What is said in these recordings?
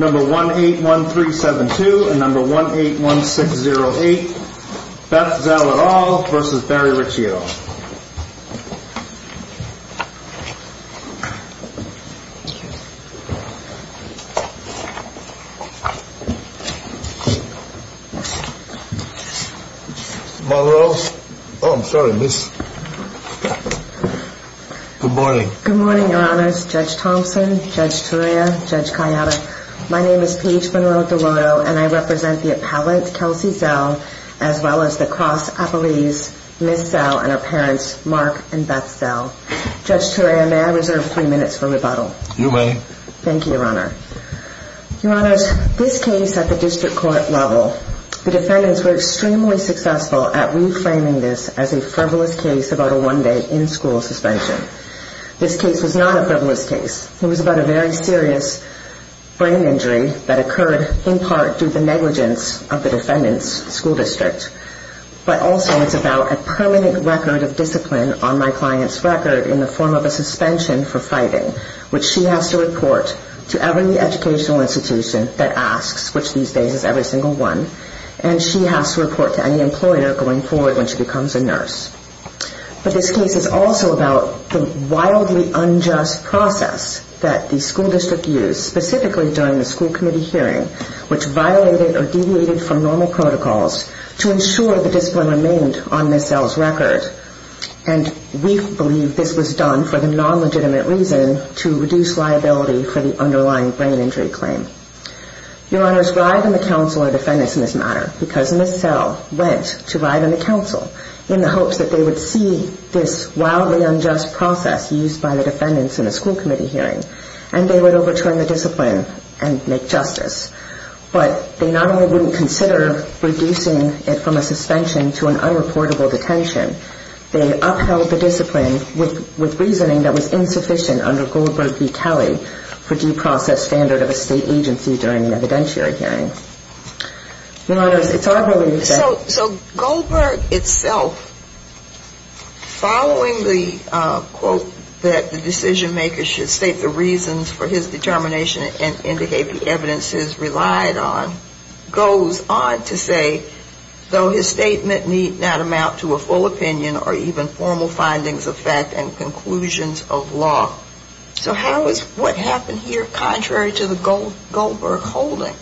No. 181372 and No. 181608, Beth Zell et al. v. Barry Ricci et al. Good morning. Oh, I'm sorry, miss. Good morning. Good morning, your honors. Judge Thompson, Judge Turia, Judge Calliota. My name is Paige Monroe-Deloto, and I represent the appellant, Kelsey Zell, as well as the cross appellees, Miss Zell and her parents, Mark and Beth Zell. Judge Turia, may I reserve three minutes for rebuttal? You may. Thank you, your honor. Your honors, this case at the district court level, the defendants were extremely successful at reframing this as a frivolous case about a one-day in-school suspension. This case was not a frivolous case. It was about a very serious brain injury that occurred, in part due to the negligence of the defendant's school district, but also it's about a permanent record of discipline on my client's record in the form of a suspension for fighting, which she has to report to every educational institution that asks, which these days is every single one, But this case is also about the wildly unjust process that the school district used, specifically during the school committee hearing, which violated or deviated from normal protocols to ensure the discipline remained on Miss Zell's record. And we believe this was done for the non-legitimate reason to reduce liability for the underlying brain injury claim. Your honors, Rive and the counsel are defendants in this matter, because Miss Zell went to Rive and the counsel in the hopes that they would see this wildly unjust process used by the defendants in the school committee hearing, and they would overturn the discipline and make justice. But they not only wouldn't consider reducing it from a suspension to an unreportable detention, they upheld the discipline with reasoning that was insufficient under Goldberg v. Kelly for due process standard of a state agency during the evidentiary hearing. Your honors, it's our pleasure to be back. So Goldberg itself, following the quote that the decision-maker should state the reasons for his determination and indicate the evidence he has relied on, goes on to say, though his statement need not amount to a full opinion or even formal findings of fact and conclusions of law. So how is what happened here contrary to the Goldberg holding?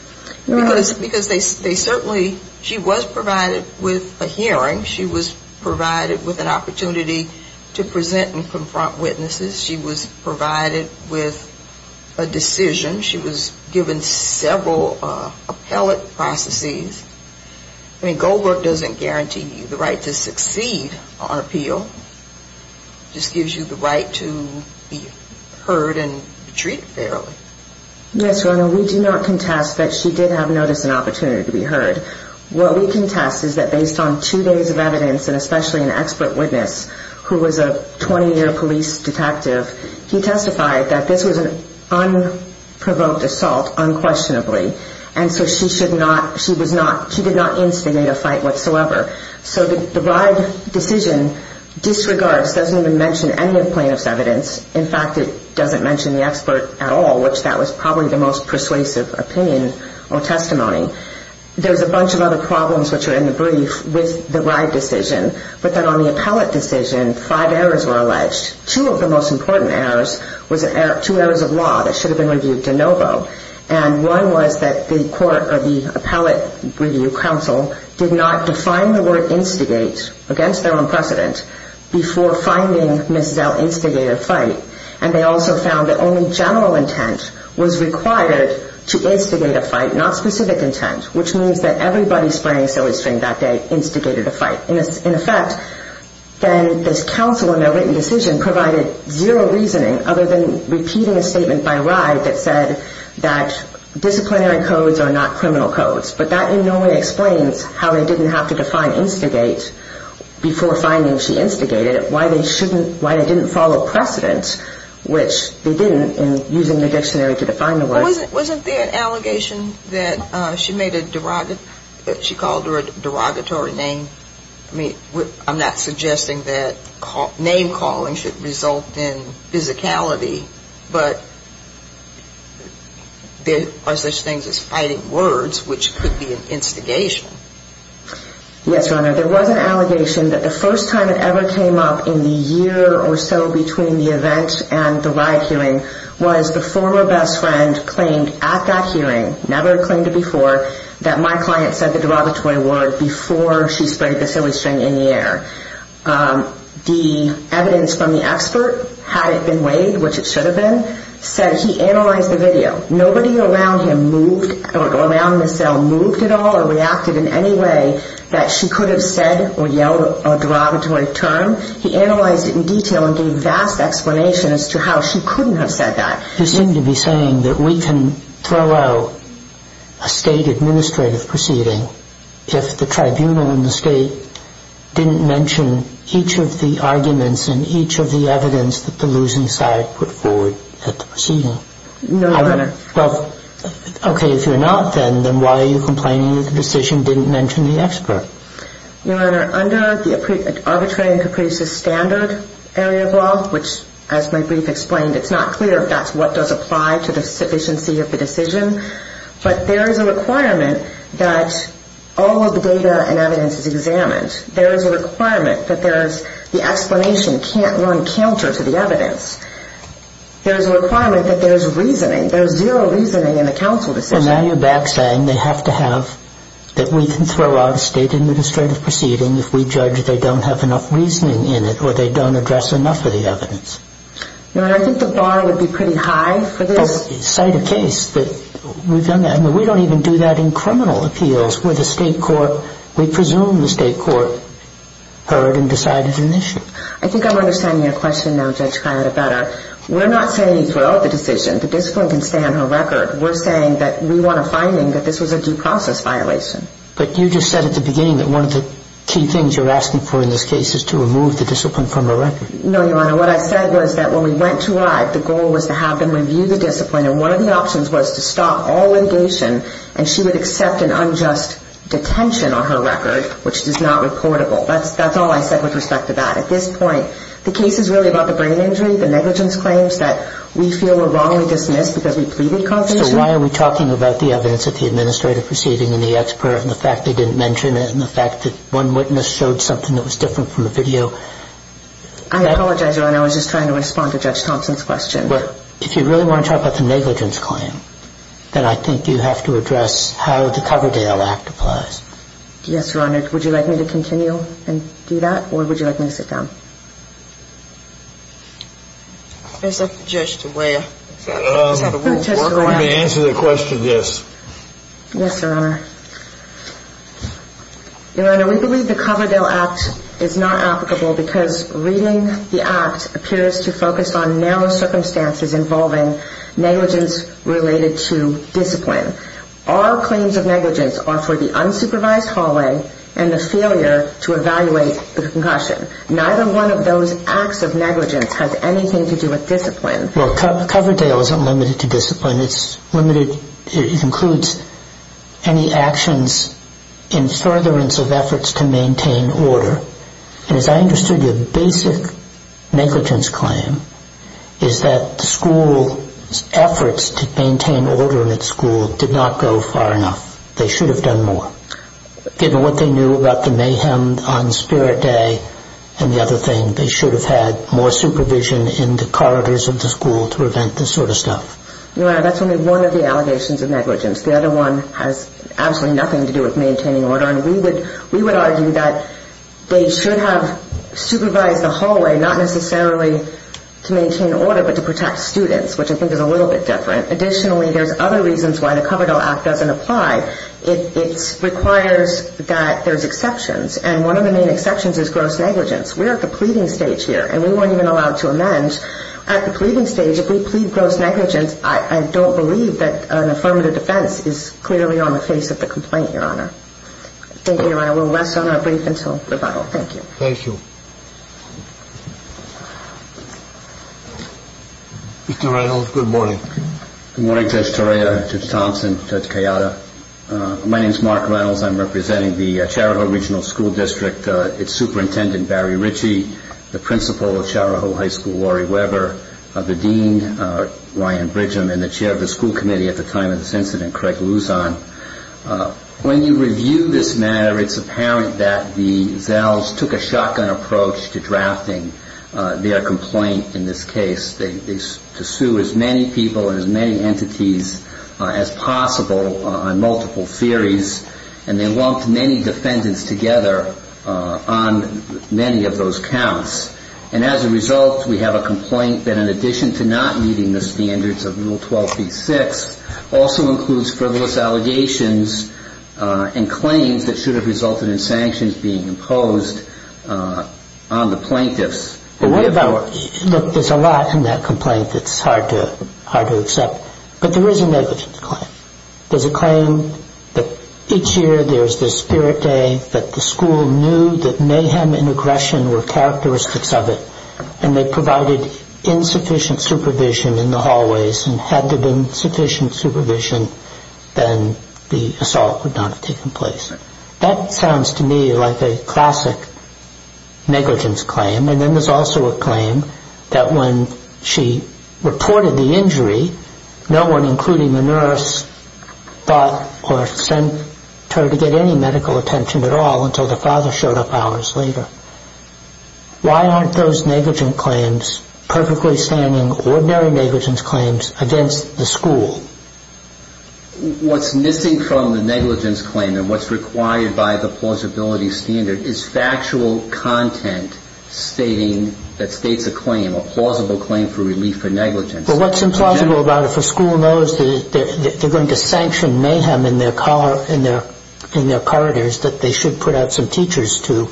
Because they certainly, she was provided with a hearing. She was provided with an opportunity to present and confront witnesses. She was provided with a decision. She was given several appellate processes. I mean, Goldberg doesn't guarantee you the right to succeed on appeal. It just gives you the right to be heard and treated fairly. Yes, your honor, we do not contest that she did have notice and opportunity to be heard. What we contest is that based on two days of evidence and especially an expert witness who was a 20-year police detective, he testified that this was an unprovoked assault unquestionably, and so she did not instigate a fight whatsoever. So the bride decision disregards, doesn't even mention any of the plaintiff's evidence. In fact, it doesn't mention the expert at all, which that was probably the most persuasive opinion or testimony. There's a bunch of other problems which are in the brief with the bride decision, but then on the appellate decision, five errors were alleged. Two of the most important errors was two errors of law that should have been reviewed de novo, and one was that the court or the appellate review counsel did not define the word instigate against their own precedent before finding Mrs. L. instigate a fight, and they also found that only general intent was required to instigate a fight, not specific intent, which means that everybody spraying silly string that day instigated a fight. In effect, then this counsel in their written decision provided zero reasoning other than repeating a statement by Rye that said that disciplinary codes are not criminal codes, but that in no way explains how they didn't have to define instigate before finding she instigated it, why they didn't follow precedent, which they didn't in using the dictionary to define the word. Wasn't there an allegation that she called her a derogatory name? I mean, I'm not suggesting that name calling should result in physicality, but there are such things as fighting words which could be an instigation. Yes, Your Honor. There was an allegation that the first time it ever came up in the year or so between the event and the Rye hearing was the former best friend claimed at that hearing, never claimed it before, that my client said the derogatory word before she sprayed the silly string in the air. The evidence from the expert, had it been weighed, which it should have been, said he analyzed the video. Nobody around him moved or around Ms. Zell moved at all or reacted in any way that she could have said or yelled a derogatory term. He analyzed it in detail and gave vast explanation as to how she couldn't have said that. You seem to be saying that we can throw out a state administrative proceeding if the tribunal in the state didn't mention each of the arguments and each of the evidence that the losing side put forward at the proceeding. No, Your Honor. Okay, if you're not then, then why are you complaining that the decision didn't mention the expert? Your Honor, under the arbitrary and capricious standard area of law, which as my brief explained, it's not clear if that's what does apply to the sufficiency of the decision, but there is a requirement that all of the data and evidence is examined. There is a requirement that the explanation can't run counter to the evidence. There is a requirement that there is reasoning. There is zero reasoning in the counsel decision. And now you're back saying they have to have, that we can throw out a state administrative proceeding if we judge they don't have enough reasoning in it or they don't address enough of the evidence. Your Honor, I think the bar would be pretty high for this. But the site of case that we've done that, I mean we don't even do that in criminal appeals where the state court, we presume the state court heard and decided an issue. I think I'm understanding your question now, Judge Palletta, better. We're not saying throw out the decision. The discipline can stay on her record. We're saying that we want a finding that this was a due process violation. But you just said at the beginning that one of the key things you're asking for in this case is to remove the discipline from her record. No, Your Honor. What I said was that when we went to ride, the goal was to have them review the discipline and one of the options was to stop all litigation and she would accept an unjust detention on her record, which is not reportable. That's all I said with respect to that. At this point, the case is really about the brain injury, the negligence claims that we feel were wrongly dismissed because we pleaded cognition. So why are we talking about the evidence at the administrative proceeding and the expert and the fact they didn't mention it and the fact that one witness showed something that was different from the video? I apologize, Your Honor. I was just trying to respond to Judge Thompson's question. If you really want to talk about the negligence claim, then I think you have to address how the Coverdale Act applies. Yes, Your Honor. Would you like me to continue and do that or would you like me to sit down? I'd like the judge to weigh it. Let me answer the question, yes. Yes, Your Honor. Your Honor, we believe the Coverdale Act is not applicable because reading the act appears to focus on narrow circumstances involving negligence related to discipline. All claims of negligence are for the unsupervised hallway and the failure to evaluate the concussion. Neither one of those acts of negligence has anything to do with discipline. Well, Coverdale isn't limited to discipline. It includes any actions in furtherance of efforts to maintain order. And as I understood your basic negligence claim is that the school's efforts to maintain order at school did not go far enough. They should have done more. Given what they knew about the mayhem on Spirit Day and the other thing, they should have had more supervision in the corridors of the school to prevent this sort of stuff. Your Honor, that's only one of the allegations of negligence. The other one has absolutely nothing to do with maintaining order. And we would argue that they should have supervised the hallway not necessarily to maintain order but to protect students, which I think is a little bit different. Additionally, there's other reasons why the Coverdale Act doesn't apply. It requires that there's exceptions, and one of the main exceptions is gross negligence. We're at the pleading stage here, and we weren't even allowed to amend. At the pleading stage, if we plead gross negligence, I don't believe that an affirmative defense is clearly on the face of the complaint, Your Honor. Thank you, Your Honor. We'll rest on our brief until rebuttal. Thank you. Thank you. Mr. Reynolds, good morning. Good morning, Judge Torea, Judge Thompson, Judge Cayada. My name is Mark Reynolds. I'm representing the Chariho Regional School District, its superintendent, Barry Ritchie, the principal of Chariho High School, Laurie Weber, the dean, Ryan Bridgham, and the chair of the school committee at the time of this incident, Craig Luzon. When you review this matter, it's apparent that the Zells took a shotgun approach to drafting their complaint in this case. They sued as many people and as many entities as possible on multiple theories, and they lumped many defendants together on many of those counts. And as a result, we have a complaint that, in addition to not meeting the standards of Rule 12b-6, also includes frivolous allegations and claims that should have resulted in sanctions being imposed on the plaintiffs. Look, there's a lot in that complaint that's hard to accept, but there is a negligence claim. There's a claim that each year there's this spirit day that the school knew that mayhem and aggression were characteristics of it, and they provided insufficient supervision in the hallways, and had there been sufficient supervision, then the assault would not have taken place. That sounds to me like a classic negligence claim, and then there's also a claim that when she reported the injury, no one, including the nurse, thought or sent her to get any medical attention at all until the father showed up hours later. Why aren't those negligence claims perfectly standing ordinary negligence claims against the school? What's missing from the negligence claim and what's required by the plausibility standard is factual content stating that states a claim, a plausible claim for relief for negligence. Well, what's implausible about it? If a school knows that they're going to sanction mayhem in their corridors, that they should put out some teachers to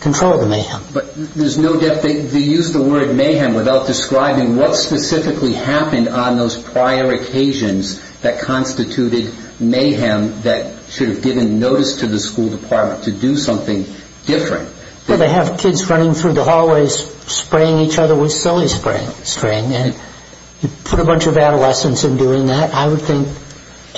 control the mayhem. But there's no doubt they used the word mayhem without describing what specifically happened on those prior occasions that constituted mayhem that should have given notice to the school department to do something different. Well, they have kids running through the hallways spraying each other with Silly String, and you put a bunch of adolescents in doing that, I would think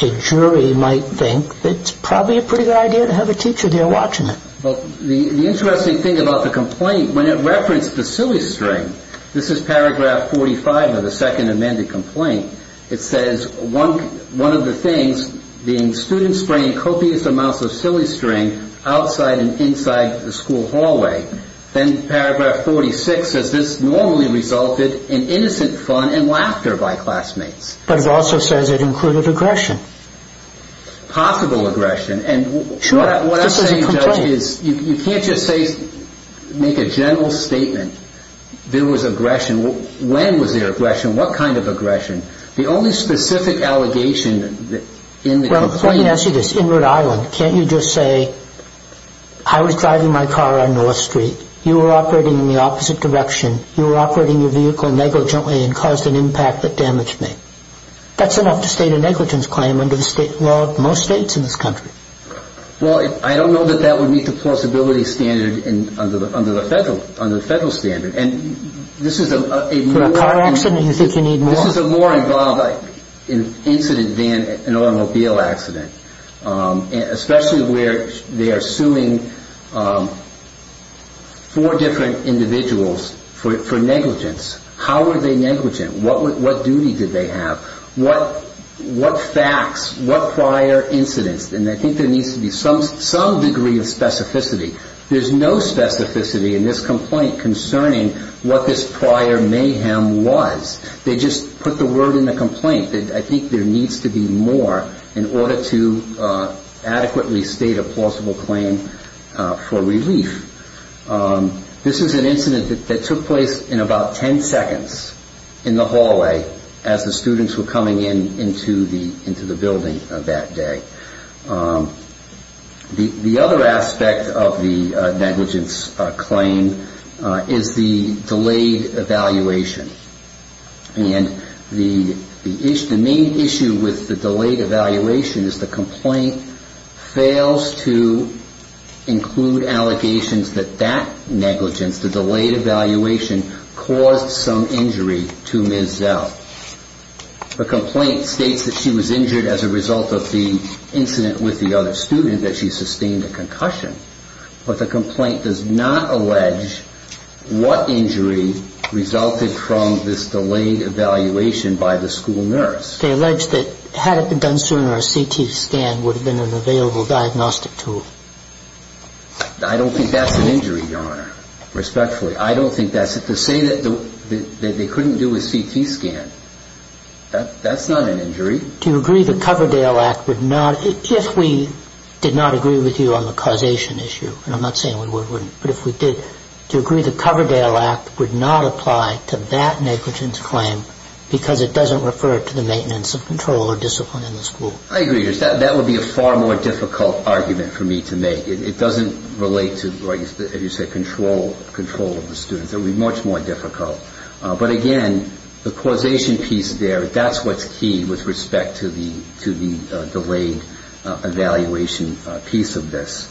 a jury might think it's probably a pretty good idea to have a teacher there watching it. Well, the interesting thing about the complaint, when it referenced the Silly String, this is paragraph 45 of the second amended complaint, it says one of the things being students spraying copious amounts of Silly String outside and inside the school hallway. Then paragraph 46 says this normally resulted in innocent fun and laughter by classmates. But it also says it included aggression. Possible aggression. And what I'm saying, Judge, is you can't just make a general statement. There was aggression. When was there aggression? What kind of aggression? The only specific allegation in the complaint... Well, let me ask you this. In Rhode Island, can't you just say I was driving my car on North Street. You were operating in the opposite direction. You were operating your vehicle negligently and caused an impact that damaged me. That's enough to state a negligence claim under most states in this country. Well, I don't know that that would meet the plausibility standard under the federal standard. For a car accident, you think you need more? It's more involved in an incident than an automobile accident. Especially where they are suing four different individuals for negligence. How were they negligent? What duty did they have? What facts? What prior incidents? And I think there needs to be some degree of specificity. There's no specificity in this complaint concerning what this prior mayhem was. They just put the word in the complaint that I think there needs to be more in order to adequately state a plausible claim for relief. This is an incident that took place in about 10 seconds in the hallway as the students were coming in into the building that day. The other aspect of the negligence claim is the delayed evaluation. And the main issue with the delayed evaluation is the complaint fails to include allegations that that negligence, the delayed evaluation, caused some injury to Ms. Zell. The complaint states that she was injured as a result of the incident with the other student, that she sustained a concussion. But the complaint does not allege what injury resulted from this delayed evaluation by the school nurse. They allege that had it been done sooner, a CT scan would have been an available diagnostic tool. I don't think that's an injury, Your Honor, respectfully. I don't think that's it. To say that they couldn't do a CT scan, that's not an injury. Do you agree the Coverdale Act would not, if we did not agree with you on the causation issue, and I'm not saying we would, wouldn't, but if we did, to agree the Coverdale Act would not apply to that negligence claim because it doesn't refer to the maintenance of control or discipline in the school. I agree. That would be a far more difficult argument for me to make. It doesn't relate to, as you say, control of the students. It would be much more difficult. But again, the causation piece there, that's what's key with respect to the delayed evaluation piece of this.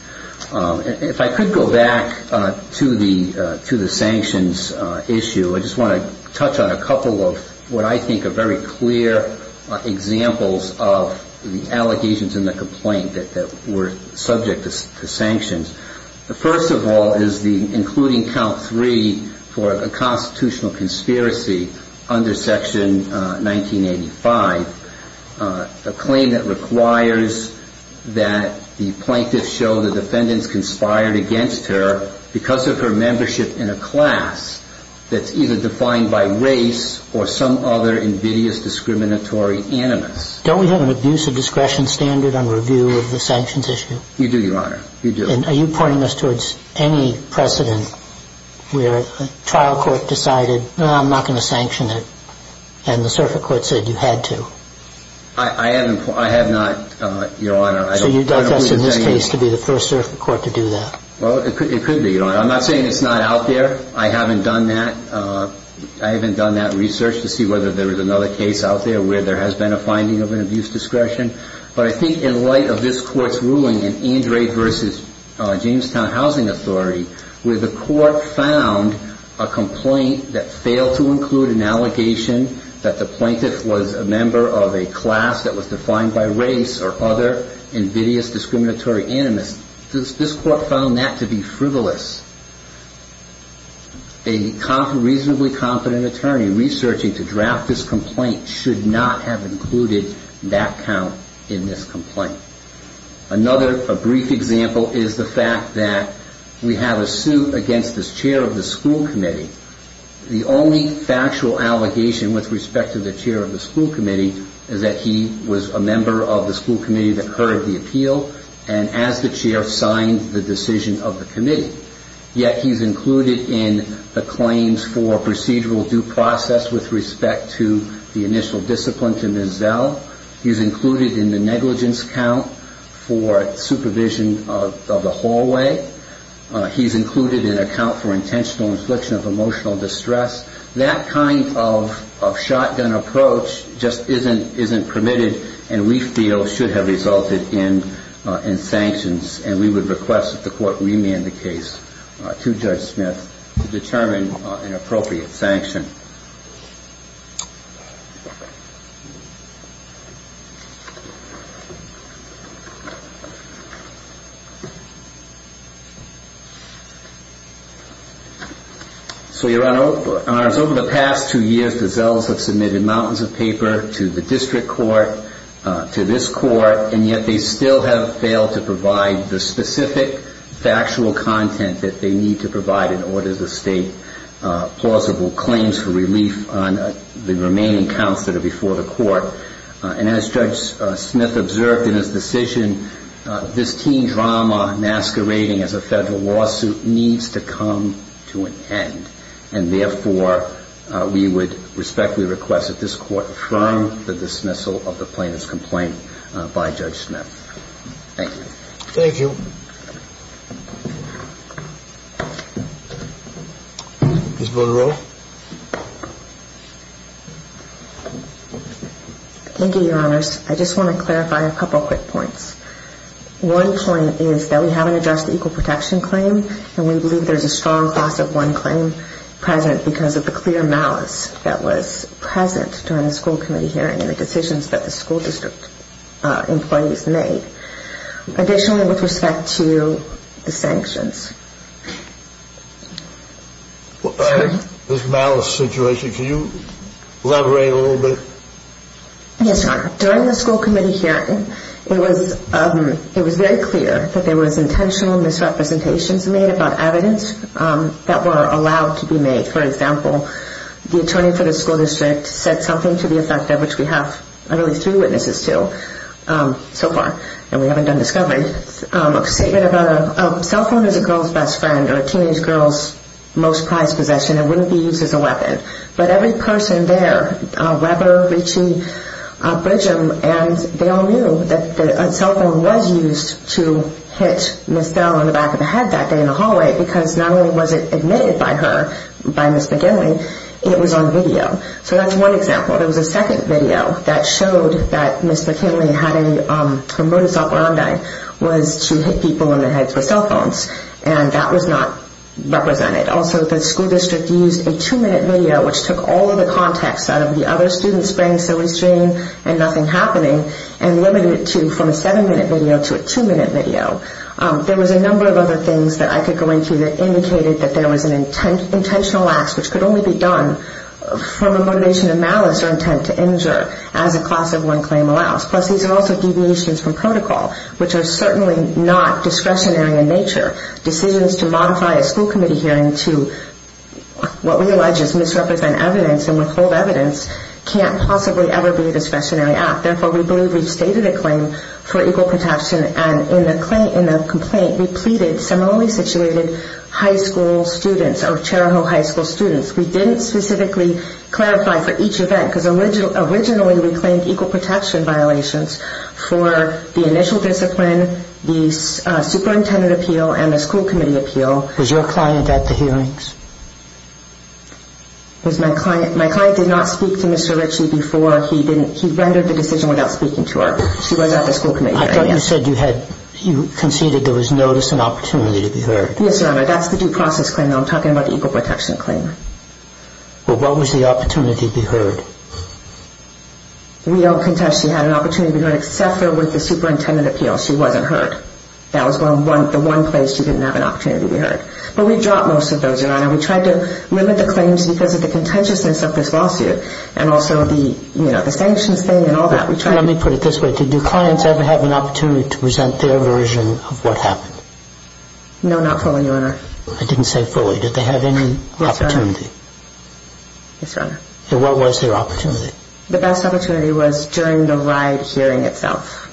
If I could go back to the sanctions issue, I just want to touch on a couple of what I think are very clear examples of the allegations in the complaint that were subject to sanctions. The first of all is the including count three for a constitutional conspiracy under section 1985, a claim that requires that the plaintiffs show the defendants conspired against her because of her membership in a class that's either defined by race or some other invidious discriminatory animus. Don't we have an abuse of discretion standard on review of the sanctions issue? You do, Your Honor. You do. Are you pointing us towards any precedent where a trial court decided, no, I'm not going to sanction it, and the circuit court said you had to? I have not, Your Honor. So you'd like us in this case to be the first circuit court to do that? It could be, Your Honor. I'm not saying it's not out there. I haven't done that. I haven't done that research to see whether there is another case out there where there has been a finding of an abuse of discretion. But I think in light of this court's ruling in Andre versus Jamestown Housing Authority, where the court found a complaint that failed to include an allegation that the plaintiff was a member of a class that was defined by race or other invidious discriminatory animus, this court found that to be frivolous. A reasonably competent attorney researching to draft this complaint should not have included that count in this complaint. Another brief example is the fact that we have a suit against the chair of the school committee. The only factual allegation with respect to the chair of the school committee is that he was a member of the school committee that heard the appeal and, as the chair, signed the decision of the committee. Yet he's included in the claims for procedural due process with respect to the initial discipline to Ms. Zell. He's included in the negligence count for supervision of the hallway. He's included in a count for intentional infliction of emotional distress. That kind of shotgun approach just isn't permitted and we feel should have resulted in sanctions. And we would request that the court remand the case to Judge Smith to determine an appropriate sanction. So you're on oath. In other words, over the past two years, the Zells have submitted mountains of paper to the district court, to this court, and yet they still have failed to provide the specific factual content that they need to provide in order to state plausible claims for relief on the remaining counts that are before the court. And as Judge Smith observed in his decision, this teen drama masquerading as a federal lawsuit needs to come to an end. And therefore, we would respectfully request that this court affirm the dismissal of the plaintiff's complaint by Judge Smith. Thank you. Thank you. Ms. Bonaroff? Thank you, Your Honors. I just want to clarify a couple quick points. One point is that we haven't addressed the equal protection claim and we believe there's a strong class of one claim present because of the clear malice that was present during the school committee hearing and the decisions that the school district employees made. Additionally, with respect to the sanctions. This malice situation, can you elaborate a little bit? Yes, Your Honor. During the school committee hearing, it was very clear that there was intentional misrepresentations made about evidence that were allowed to be made. For example, the attorney for the school district said something to the effect of which we have at least three witnesses to so far and we haven't done discovery. A statement about a cell phone is a girl's best friend or a teenage girl's most prized possession and wouldn't be used as a weapon. But every person there, Weber, Ritchie, Bridgham, and they all knew that a cell phone was used to hit Ms. Bell in the back of the head that day in the hallway because not only was it admitted by her, by Ms. McKinley, it was on video. So that's one example. There was a second video that showed that Ms. McKinley, her modus operandi, was to hit people in the head with cell phones and that was not represented. Also, the school district used a two-minute video which took all of the context out of the other students spraying silly string and nothing happening and limited it from a seven-minute video to a two-minute video. There was a number of other things that I could go into that indicated that there was an intentional act which could only be done from a motivation of malice or intent to injure as a class of one claim allows. Plus, these are also deviations from protocol which are certainly not discretionary in nature. Decisions to modify a school committee hearing to what we allege is misrepresent evidence and withhold evidence can't possibly ever be a discretionary act. Therefore, we believe we've stated a claim for equal protection and in the complaint, we pleaded similarly situated high school students or Cheriho high school students. We didn't specifically clarify for each event because originally we claimed equal protection violations for the initial discipline, the superintendent appeal and the school committee appeal. Was your client at the hearings? My client did not speak to Mr. Ritchie before. He rendered the decision without speaking to her. She was at the school committee hearing. I thought you said you conceded there was notice and opportunity to be heard. Yes, Your Honor, that's the due process claim and I'm talking about the equal protection claim. Well, what was the opportunity to be heard? We don't contest she had an opportunity to be heard except for with the superintendent appeal. She wasn't heard. That was the one place she didn't have an opportunity to be heard. But we dropped most of those, Your Honor. We tried to limit the claims because of the contentiousness of this lawsuit and also the sanctions thing and all that. Let me put it this way. Did your clients ever have an opportunity to present their version of what happened? No, not fully, Your Honor. I didn't say fully. Did they have any opportunity? Yes, Your Honor. And what was their opportunity? The best opportunity was during the ride hearing itself.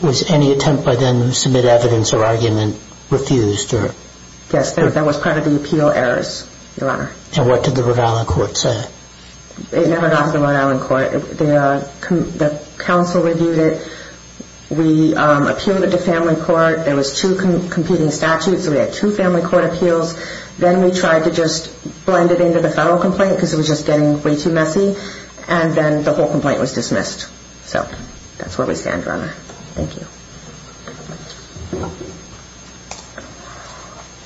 Was any attempt by them to submit evidence or argument refused? Yes, that was part of the appeal errors, Your Honor. And what did the Rhode Island court say? It never got to the Rhode Island court. The counsel reviewed it. We appealed it to family court. There was two competing statutes, so we had two family court appeals. Then we tried to just blend it into the federal complaint because it was just getting way too messy, and then the whole complaint was dismissed. So that's where we stand, Your Honor. Thank you.